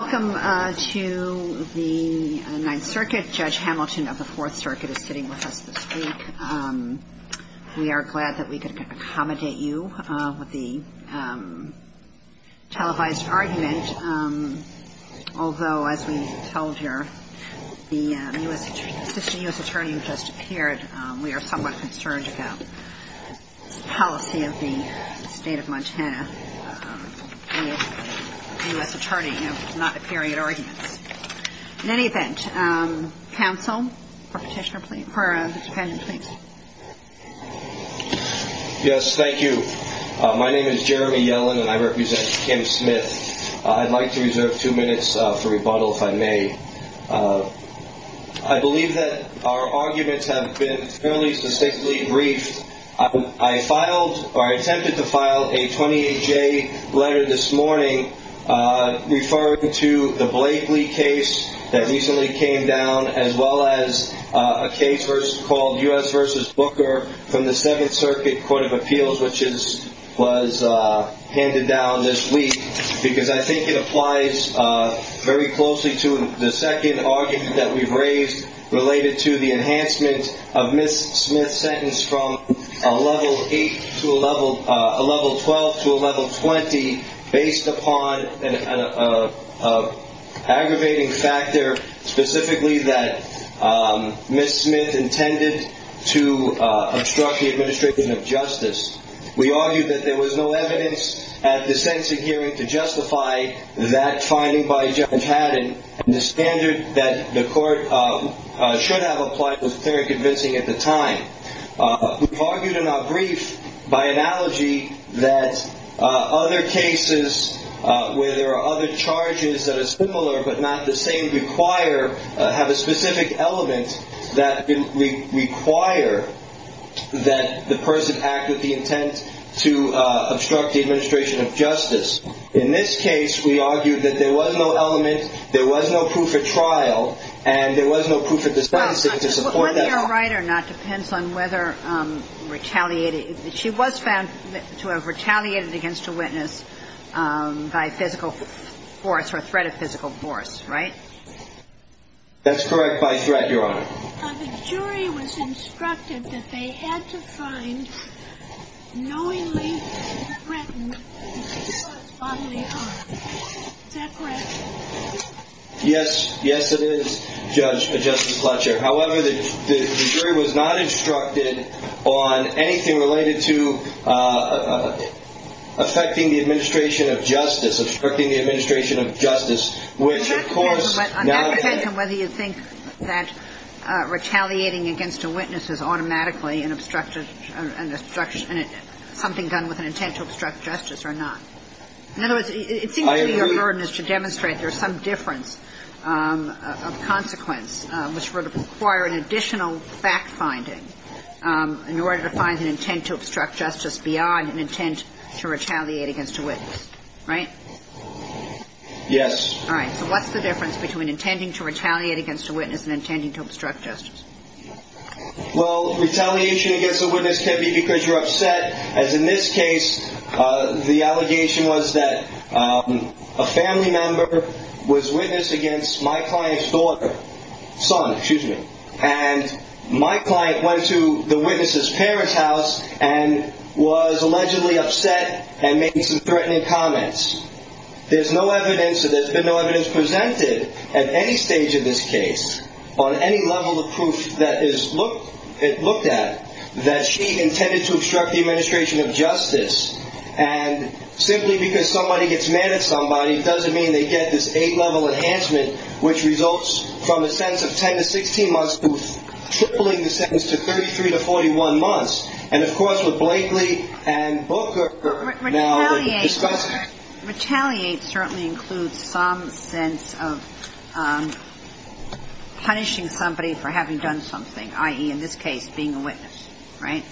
Welcome to the Ninth Circuit. Judge Hamilton of the Fourth Circuit is sitting with us this week. We are glad that we could accommodate you with the televised argument. Although, as we told you, the U.S. attorney who just appeared, we are somewhat concerned about the policy of the state of Montana. The U.S. attorney not appearing at arguments. In any event, counsel, petitioner, please. Yes, thank you. My name is Jeremy Yellen and I represent Kim Smith. I'd like to reserve two minutes for rebuttal if I may. I believe that our arguments have been fairly specifically briefed. I attempted to file a 28-J letter this morning referring to the Blakely case that recently came down, as well as a case called U.S. v. Booker from the Seventh Circuit Court of Appeals, which was handed down this week. Because I think it applies very closely to the second argument that we've raised related to the enhancement of Ms. Smith's sentence from a level 12 to a level 20 based upon an aggravating factor specifically that Ms. Smith intended to obstruct the administration of justice. We argued that there was no evidence at the sentencing hearing to justify that finding by Judge Haddon. The standard that the court should have applied was very convincing at the time. We've argued in our brief by analogy that other cases where there are other charges that are similar but not the same require, have a specific element that require that the person act with the intent to obstruct the administration of justice. In this case, we argued that there was no element, there was no proof at trial, and there was no proof at the sentencing to support that. Whether you're right or not depends on whether retaliated. She was found to have retaliated against a witness by physical force or threat of physical force, right? That's correct by threat, Your Honor. The jury was instructed that they had to find knowingly threatened to cause bodily harm. Is that correct? Yes. Yes, it is, Judge, Justice Fletcher. However, the jury was not instructed on anything related to affecting the administration of justice, obstructing the administration of justice, which, of course, is not the case. On that defense and whether you think that retaliating against a witness is automatically an obstruction, something done with an intent to obstruct justice or not. In other words, it seems to be a burden to demonstrate there's some difference of consequence, which would require an additional fact finding in order to find an intent to obstruct justice beyond an intent to retaliate against a witness. Right? Yes. All right. So what's the difference between intending to retaliate against a witness and intending to obstruct justice? Well, retaliation against a witness can be because you're upset. As in this case, the allegation was that a family member was witnessed against my client's daughter, son, excuse me, and my client went to the witness's parents' house and was allegedly upset and made some threatening comments. There's been no evidence presented at any stage of this case on any level of proof that is looked at that she intended to obstruct the administration of justice. And simply because somebody gets mad at somebody doesn't mean they get this eight-level enhancement, which results from a sentence of 10 to 16 months to tripling the sentence to 33 to 41 months. And, of course, with Blakely and Booker now discussing it. Retaliate certainly includes some sense of punishing somebody for having done something, i.e., in this case, being a witness. Right?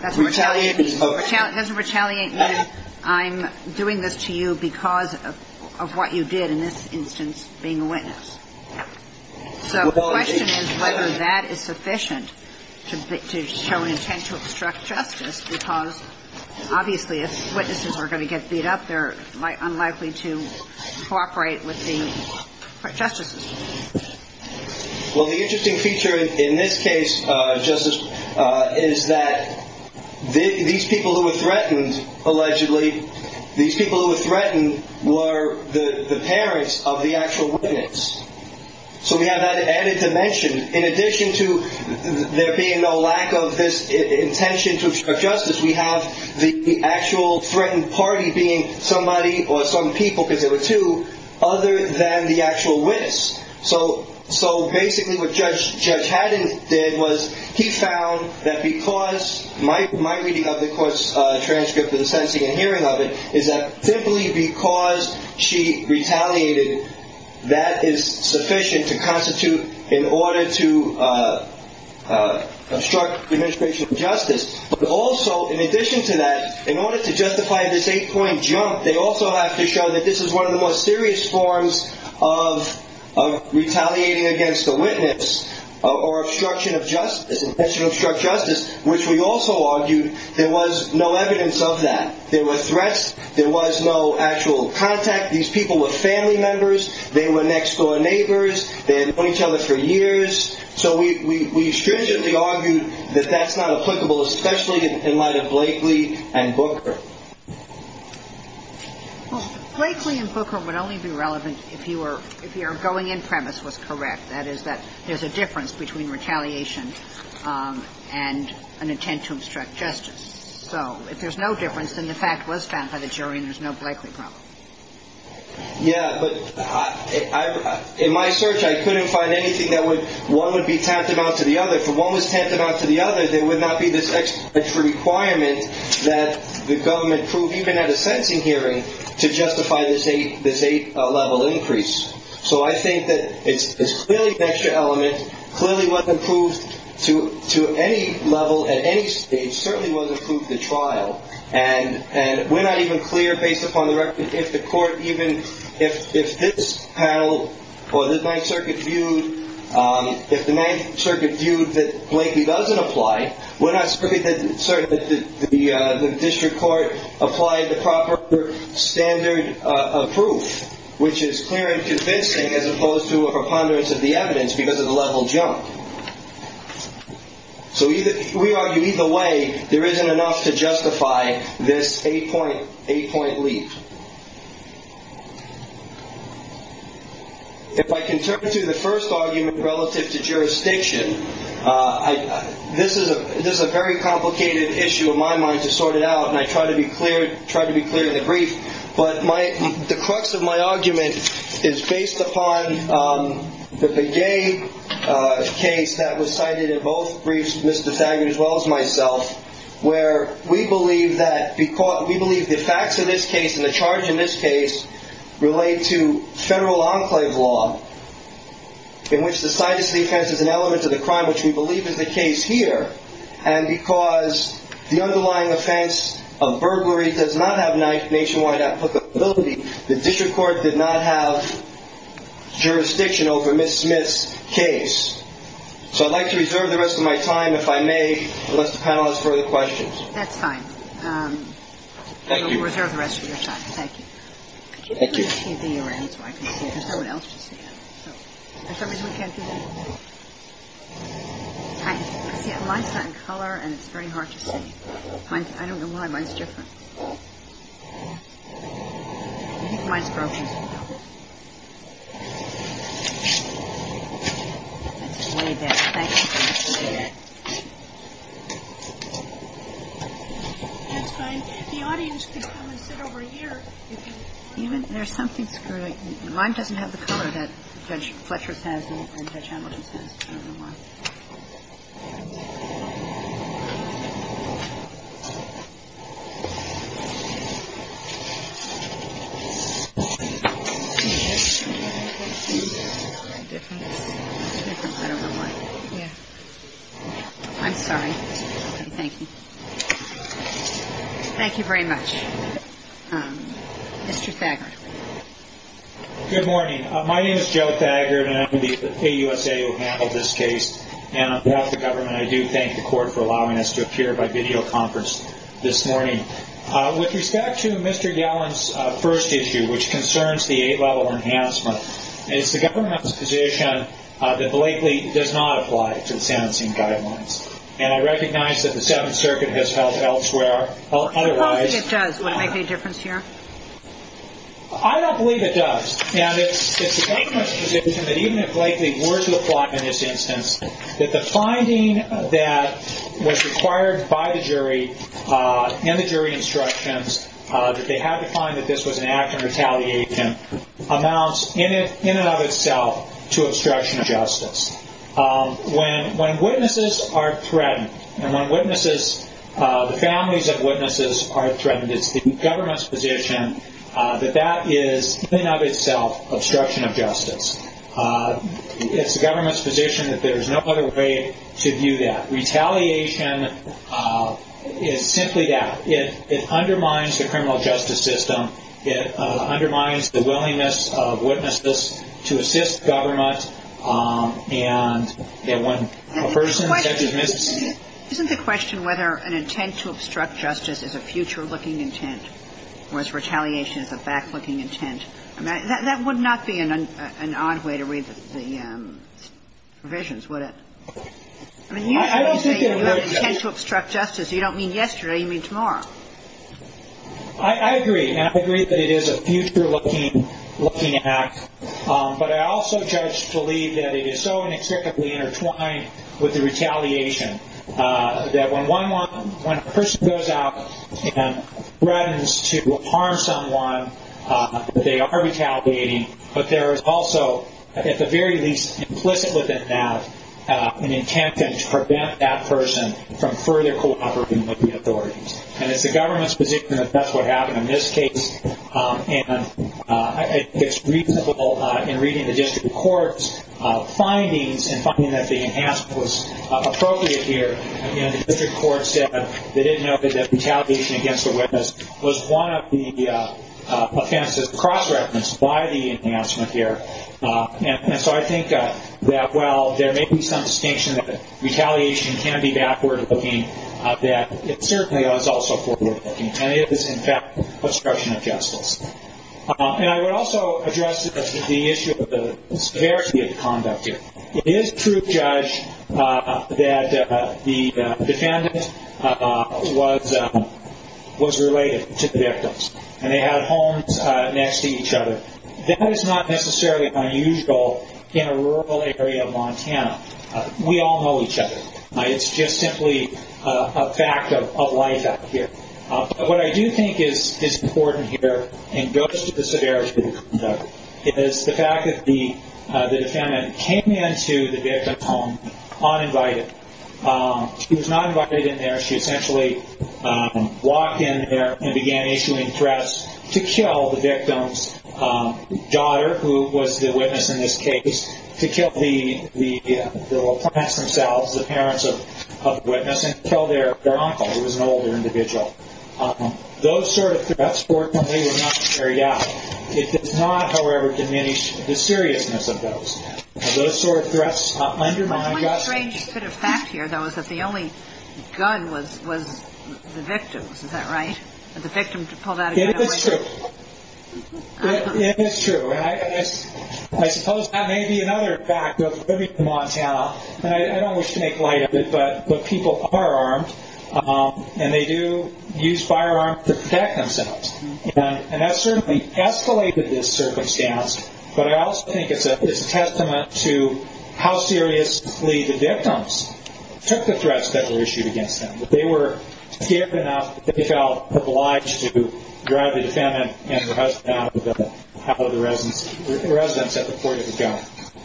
That's what retaliate means. Doesn't retaliate mean I'm doing this to you because of what you did in this instance being a witness? So the question is whether that is sufficient to show an intent to obstruct justice because obviously if witnesses are going to get beat up, they're unlikely to cooperate with the justices. Well, the interesting feature in this case, Justice, is that these people who were threatened, allegedly, these people who were threatened were the parents of the actual witness. So we have that added dimension. In addition to there being no lack of this intention to obstruct justice, we have the actual threatened party being somebody or some people, because there were two, other than the actual witness. So basically what Judge Haddon did was he found that because my reading of the court's transcript and the sentencing and hearing of it is that simply because she retaliated, that is sufficient to constitute an order to obstruct administration of justice. But also, in addition to that, in order to justify this eight-point jump, they also have to show that this is one of the more serious forms of retaliating against a witness or obstruction of justice, intention to obstruct justice, which we also argued there was no evidence of that. There were threats. There was no actual contact. These people were family members. They were next-door neighbors. They had known each other for years. So we stringently argued that that's not applicable, especially in light of Blakely and Booker. Well, Blakely and Booker would only be relevant if your going-in premise was correct, that is that there's a difference between retaliation and an intent to obstruct justice. So if there's no difference, then the fact was found by the jury and there's no Blakely problem. Yeah, but in my search, I couldn't find anything that one would be tantamount to the other. If one was tantamount to the other, there would not be this extra requirement that the government prove, even at a sentencing hearing, to justify this eight-level increase. So I think that it's clearly an extra element, clearly wasn't proved to any level at any stage, certainly wasn't proved at trial. And we're not even clear, based upon the record, if the court even, if this panel or the Ninth Circuit viewed, if the Ninth Circuit viewed that Blakely doesn't apply, we're not certain that the district court applied the proper standard of proof, which is clear and convincing as opposed to a preponderance of the evidence because of the level jump. So we argue either way there isn't enough to justify this eight-point leap. If I can turn to the first argument relative to jurisdiction, this is a very complicated issue in my mind to sort it out, and I try to be clear in the brief. But the crux of my argument is based upon the Begay case that was cited in both briefs, Mr. Faggert as well as myself, where we believe that, we believe the facts of this case and the charge in this case relate to federal enclave law, in which the sightest defense is an element of the crime, which we believe is the case here, and because the underlying offense of burglary does not have nationwide applicability, the district court did not have jurisdiction over Ms. Smith's case. So I'd like to reserve the rest of my time, if I may, unless the panel has further questions. That's fine. Thank you. We'll reserve the rest of your time. Thank you. Thank you. I'll turn the TV around so I can see. There's no one else to see it. So for some reason we can't do that. See, mine's not in color and it's very hard to see. I don't know why. Mine's different. I think mine's broken. Mine doesn't have the color that Judge Fletcher's has and Judge Hamilton's has. I don't know why. I'm sorry. Thank you. Thank you very much. Mr. Thagard. Good morning. My name is Joe Thagard, and I'm the AUSA who handled this case. And on behalf of the government, I do thank the court for allowing us to appear by videoconference this morning. With respect to Mr. Yallin's first issue, which concerns the eight-level enhancement, it's the government's position that Blakely does not apply to the sentencing guidelines. And I recognize that the Seventh Circuit has held elsewhere otherwise. Suppose that it does. Would it make any difference here? I don't believe it does. And it's the government's position that even if Blakely were to apply in this instance, that the finding that was required by the jury in the jury instructions, that they had to find that this was an act of retaliation, amounts in and of itself to obstruction of justice. When witnesses are threatened, and when witnesses, the families of witnesses are threatened, it's the government's position that that is, in and of itself, obstruction of justice. It's the government's position that there is no other way to view that. Retaliation is simply that. It undermines the criminal justice system. It undermines the willingness of witnesses to assist government. And when a person is mis- Isn't the question whether an intent to obstruct justice is a future-looking intent, whereas retaliation is a back-looking intent, that would not be an odd way to read the provisions, would it? I mean, usually you say you have an intent to obstruct justice. You don't mean yesterday. You mean tomorrow. I agree. And I agree that it is a future-looking act. But I also, Judge, believe that it is so inexplicably intertwined with the retaliation that when a person goes out and threatens to harm someone, they are retaliating. But there is also, at the very least, implicit within that, an intent to prevent that person from further cooperating with the authorities. And it's the government's position that that's what happened in this case. And it's reasonable in reading the district court's findings and finding that the enhancement was appropriate here. The district court said they didn't know that retaliation against a witness was one of the offenses cross-referenced by the enhancement here. And so I think that while there may be some distinction that retaliation can be backward-looking, that it certainly was also forward-looking. And it is, in fact, obstruction of justice. And I would also address the issue of the severity of the conduct here. It is true, Judge, that the defendant was related to the victims, and they had homes next to each other. That is not necessarily unusual in a rural area of Montana. We all know each other. It's just simply a fact of life out here. But what I do think is important here, and goes to the severity of the conduct, is the fact that the defendant came into the victim's home uninvited. She was not invited in there. She essentially walked in there and began issuing threats to kill the victim's daughter, who was the witness in this case, to kill the parents themselves, the parents of the witness, and kill their uncle, who was an older individual. Those sort of threats, fortunately, were not carried out. It does not, however, diminish the seriousness of those. Those sort of threats undermine justice. One strange sort of fact here, though, is that the only gun was the victim's. Is that right? The victim pulled out a gun. It is true. It is true. And I suppose that may be another fact of living in Montana. And I don't wish to make light of it, but people are armed, and they do use firearms to protect themselves. And that certainly escalated this circumstance, but I also think it's a testament to how seriously the victims took the threats that were issued against them. They were scared enough that they felt obliged to drive the defendant and her husband out of the residence at the port of the gun.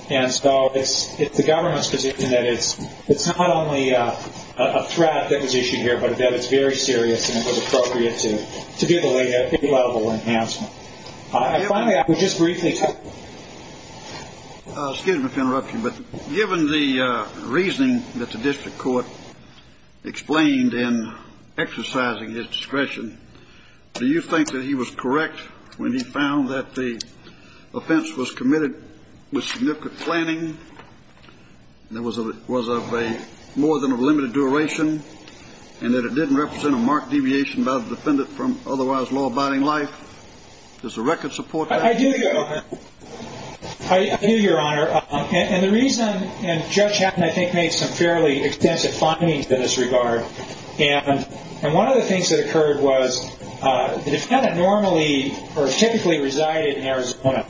And so it's the government's position that it's not only a threat that was issued here, but that it's very serious and it was appropriate to give a level of enhancement. Finally, I would just briefly tell you. Excuse my interruption, but given the reasoning that the district court explained in exercising his discretion, do you think that he was correct when he found that the offense was committed with significant planning and it was of more than a limited duration and that it didn't represent a marked deviation by the defendant from otherwise law-abiding life? Does the record support that? I do, Your Honor. I do, Your Honor. And the reason, and Judge Hatton, I think, made some fairly extensive findings in this regard. And one of the things that occurred was the defendant normally or typically resided in Arizona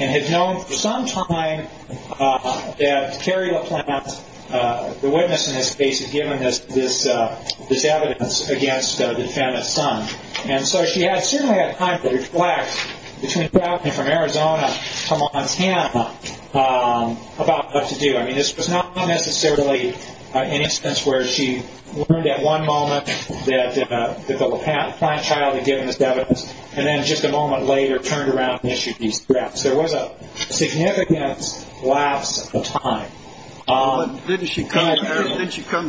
and had known for some time that Carrie LaPlante, the witness in this case, had given this evidence against the defendant's son. And so she had certainly had time to reflect between traveling from Arizona to Montana about what to do. I mean, this was not necessarily an instance where she learned at one moment that the LaPlante child had given this evidence and then just a moment later turned around and issued these threats. There was a significant lapse of time. Didn't she come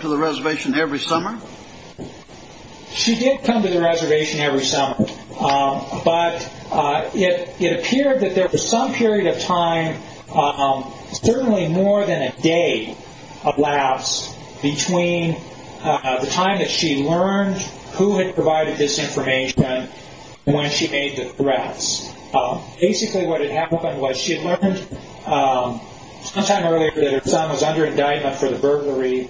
to the reservation every summer? She did come to the reservation every summer, but it appeared that there was some period of time, certainly more than a day of lapse, between the time that she learned who had provided this information and when she made the threats. Basically what had happened was she had learned sometime earlier that her son was under indictment for the burglary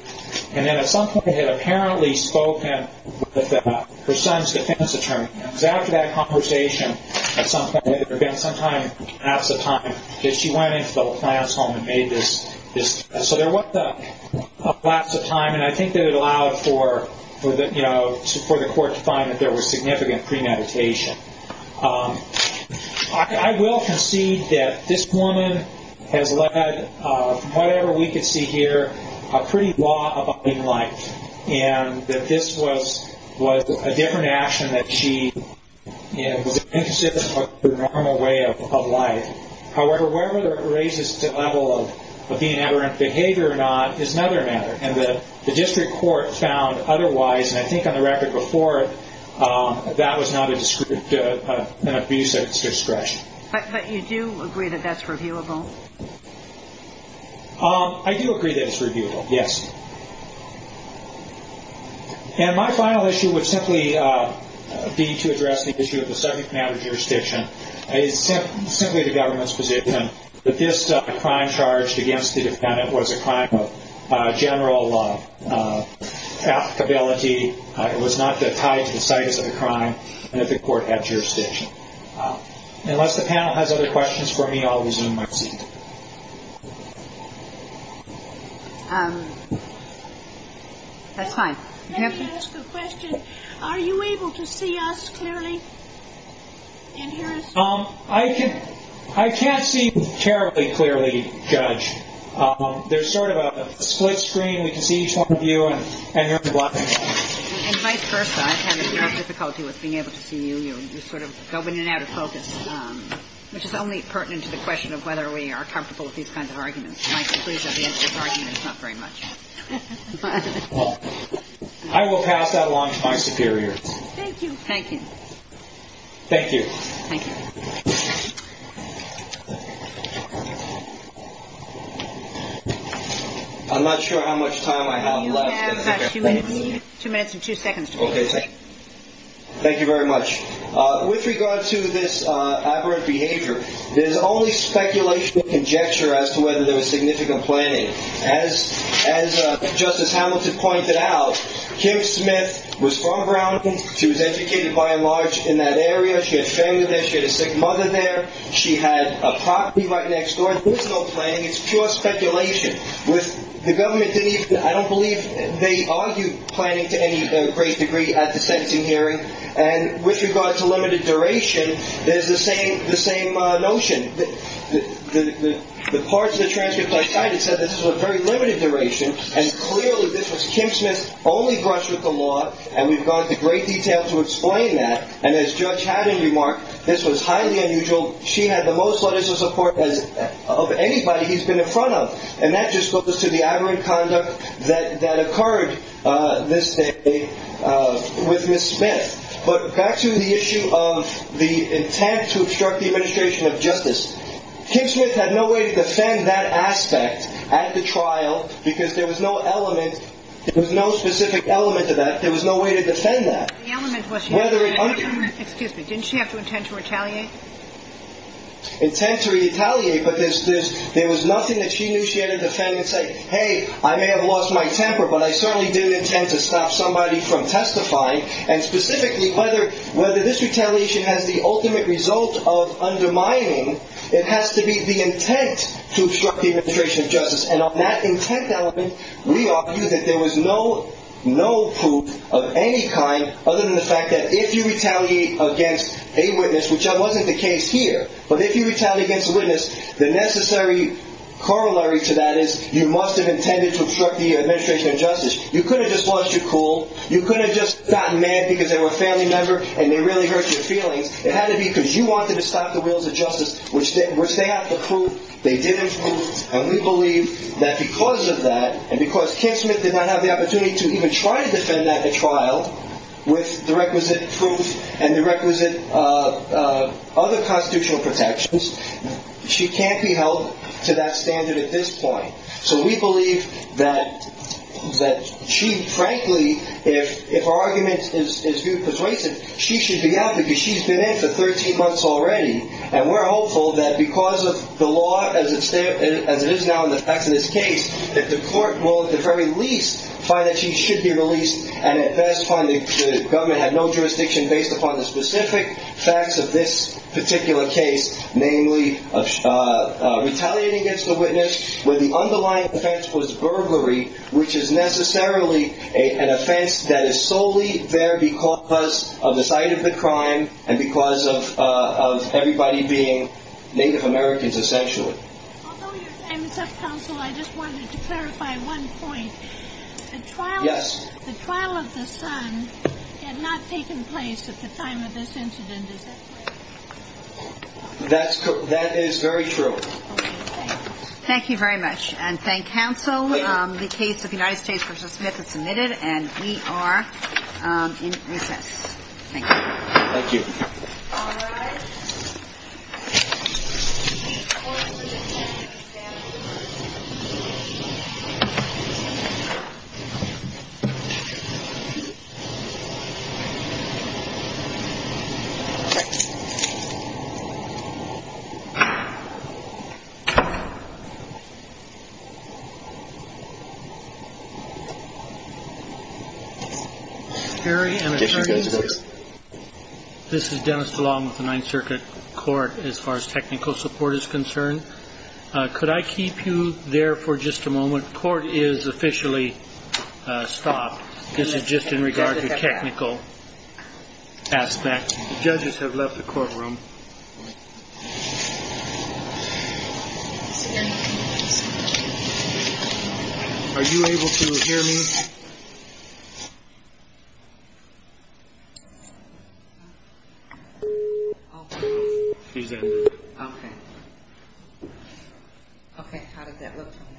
and then at some point had apparently spoken with her son's defense attorney. And it was after that conversation, at some point, again, sometime in the lapse of time, that she went into the LaPlante's home and made this threat. So there was a lapse of time, and I think that it allowed for the court to find that there was significant premeditation. I will concede that this woman has led, from whatever we can see here, a pretty law-abiding life, and that this was a different action that she was inconsistent with her normal way of life. However, whether it raises the level of being aberrant behavior or not is another matter, and the district court found otherwise, and I think on the record before that was not an abuse at its discretion. But you do agree that that's reviewable? I do agree that it's reviewable, yes. And my final issue would simply be to address the issue of the subject matter jurisdiction. It's simply the government's position that this crime charged against the defendant was a crime of general applicability. It was not tied to the status of the crime, and that the court had jurisdiction. Unless the panel has other questions for me, I'll resume my seat. That's fine. Can I ask a question? Are you able to see us clearly and hear us? I can't see terribly clearly, Judge. There's sort of a split screen. We can see each one of you, and you're in the black and white. And vice versa. I've had a lot of difficulty with being able to see you. You're sort of going in and out of focus, which is only pertinent to the question of whether we are comfortable with these kinds of arguments. My conclusion is this argument is not very much. I will pass that along to my superior. Thank you. Thank you. Thank you. Thank you. I'm not sure how much time I have left. You have about two minutes. Two minutes and two seconds. Okay. Thank you very much. With regard to this aberrant behavior, there's only speculation and conjecture as to whether there was significant planning. As Justice Hamilton pointed out, Kim Smith was from Brown. She was educated, by and large, in that area. She had family there. She had a sick mother there. She had a property right next door. There was no planning. It's pure speculation. The government didn't even, I don't believe they argued planning to any great degree at the sentencing hearing. And with regard to limited duration, there's the same notion. The parts of the transcripts I cited said this was a very limited duration, and clearly this was Kim Smith's only brush with the law, and we've gone into great detail to explain that. And as Judge Haddon remarked, this was highly unusual. She had the most letters of support of anybody he's been in front of, and that just goes to the aberrant conduct that occurred this day with Ms. Smith. But back to the issue of the intent to obstruct the administration of justice, Kim Smith had no way to defend that aspect at the trial because there was no element. There was no specific element to that. There was no way to defend that. Excuse me. Didn't she have to intend to retaliate? Intent to retaliate, but there was nothing that she knew she had to defend and say, hey, I may have lost my temper, but I certainly didn't intend to stop somebody from testifying. And specifically, whether this retaliation has the ultimate result of undermining, it has to be the intent to obstruct the administration of justice. And on that intent element, we argue that there was no proof of any kind other than the fact that if you retaliate against a witness, which wasn't the case here, but if you retaliate against a witness, the necessary corollary to that is you must have intended to obstruct the administration of justice. You could have just lost your cool. You could have just gotten mad because they were a family member and they really hurt your feelings. It had to be because you wanted to stop the wheels of justice, which they have to prove. They didn't, and we believe that because of that, and because Kim Smith did not have the opportunity to even try to defend that at trial with the requisite proof and the requisite other constitutional protections, she can't be held to that standard at this point. So we believe that she, frankly, if her argument is viewed persuasive, she should be out because she's been in for 13 months already, and we're hopeful that because of the law as it is now in the facts of this case, that the court will at the very least find that she should be released and at best find that the government had no jurisdiction based upon the specific facts of this particular case, namely retaliating against a witness where the underlying offense was burglary, which is necessarily an offense that is solely there because of the site of the crime and because of everybody being Native Americans essentially. Although your time is up, counsel, I just wanted to clarify one point. The trial of the son had not taken place at the time of this incident, is that correct? That is very true. Thank you very much, and thank counsel. The case of the United States v. Smith is submitted, and we are in recess. Thank you. Thank you. Thank you. This is Dennis DeLong with the Ninth Circuit Court as far as technical support is concerned. Could I keep you there for just a moment? Court is officially stopped. This is just in regard to technical aspects. Judges have left the courtroom. Are you able to hear me? She's ended. Okay. Okay. Thank you.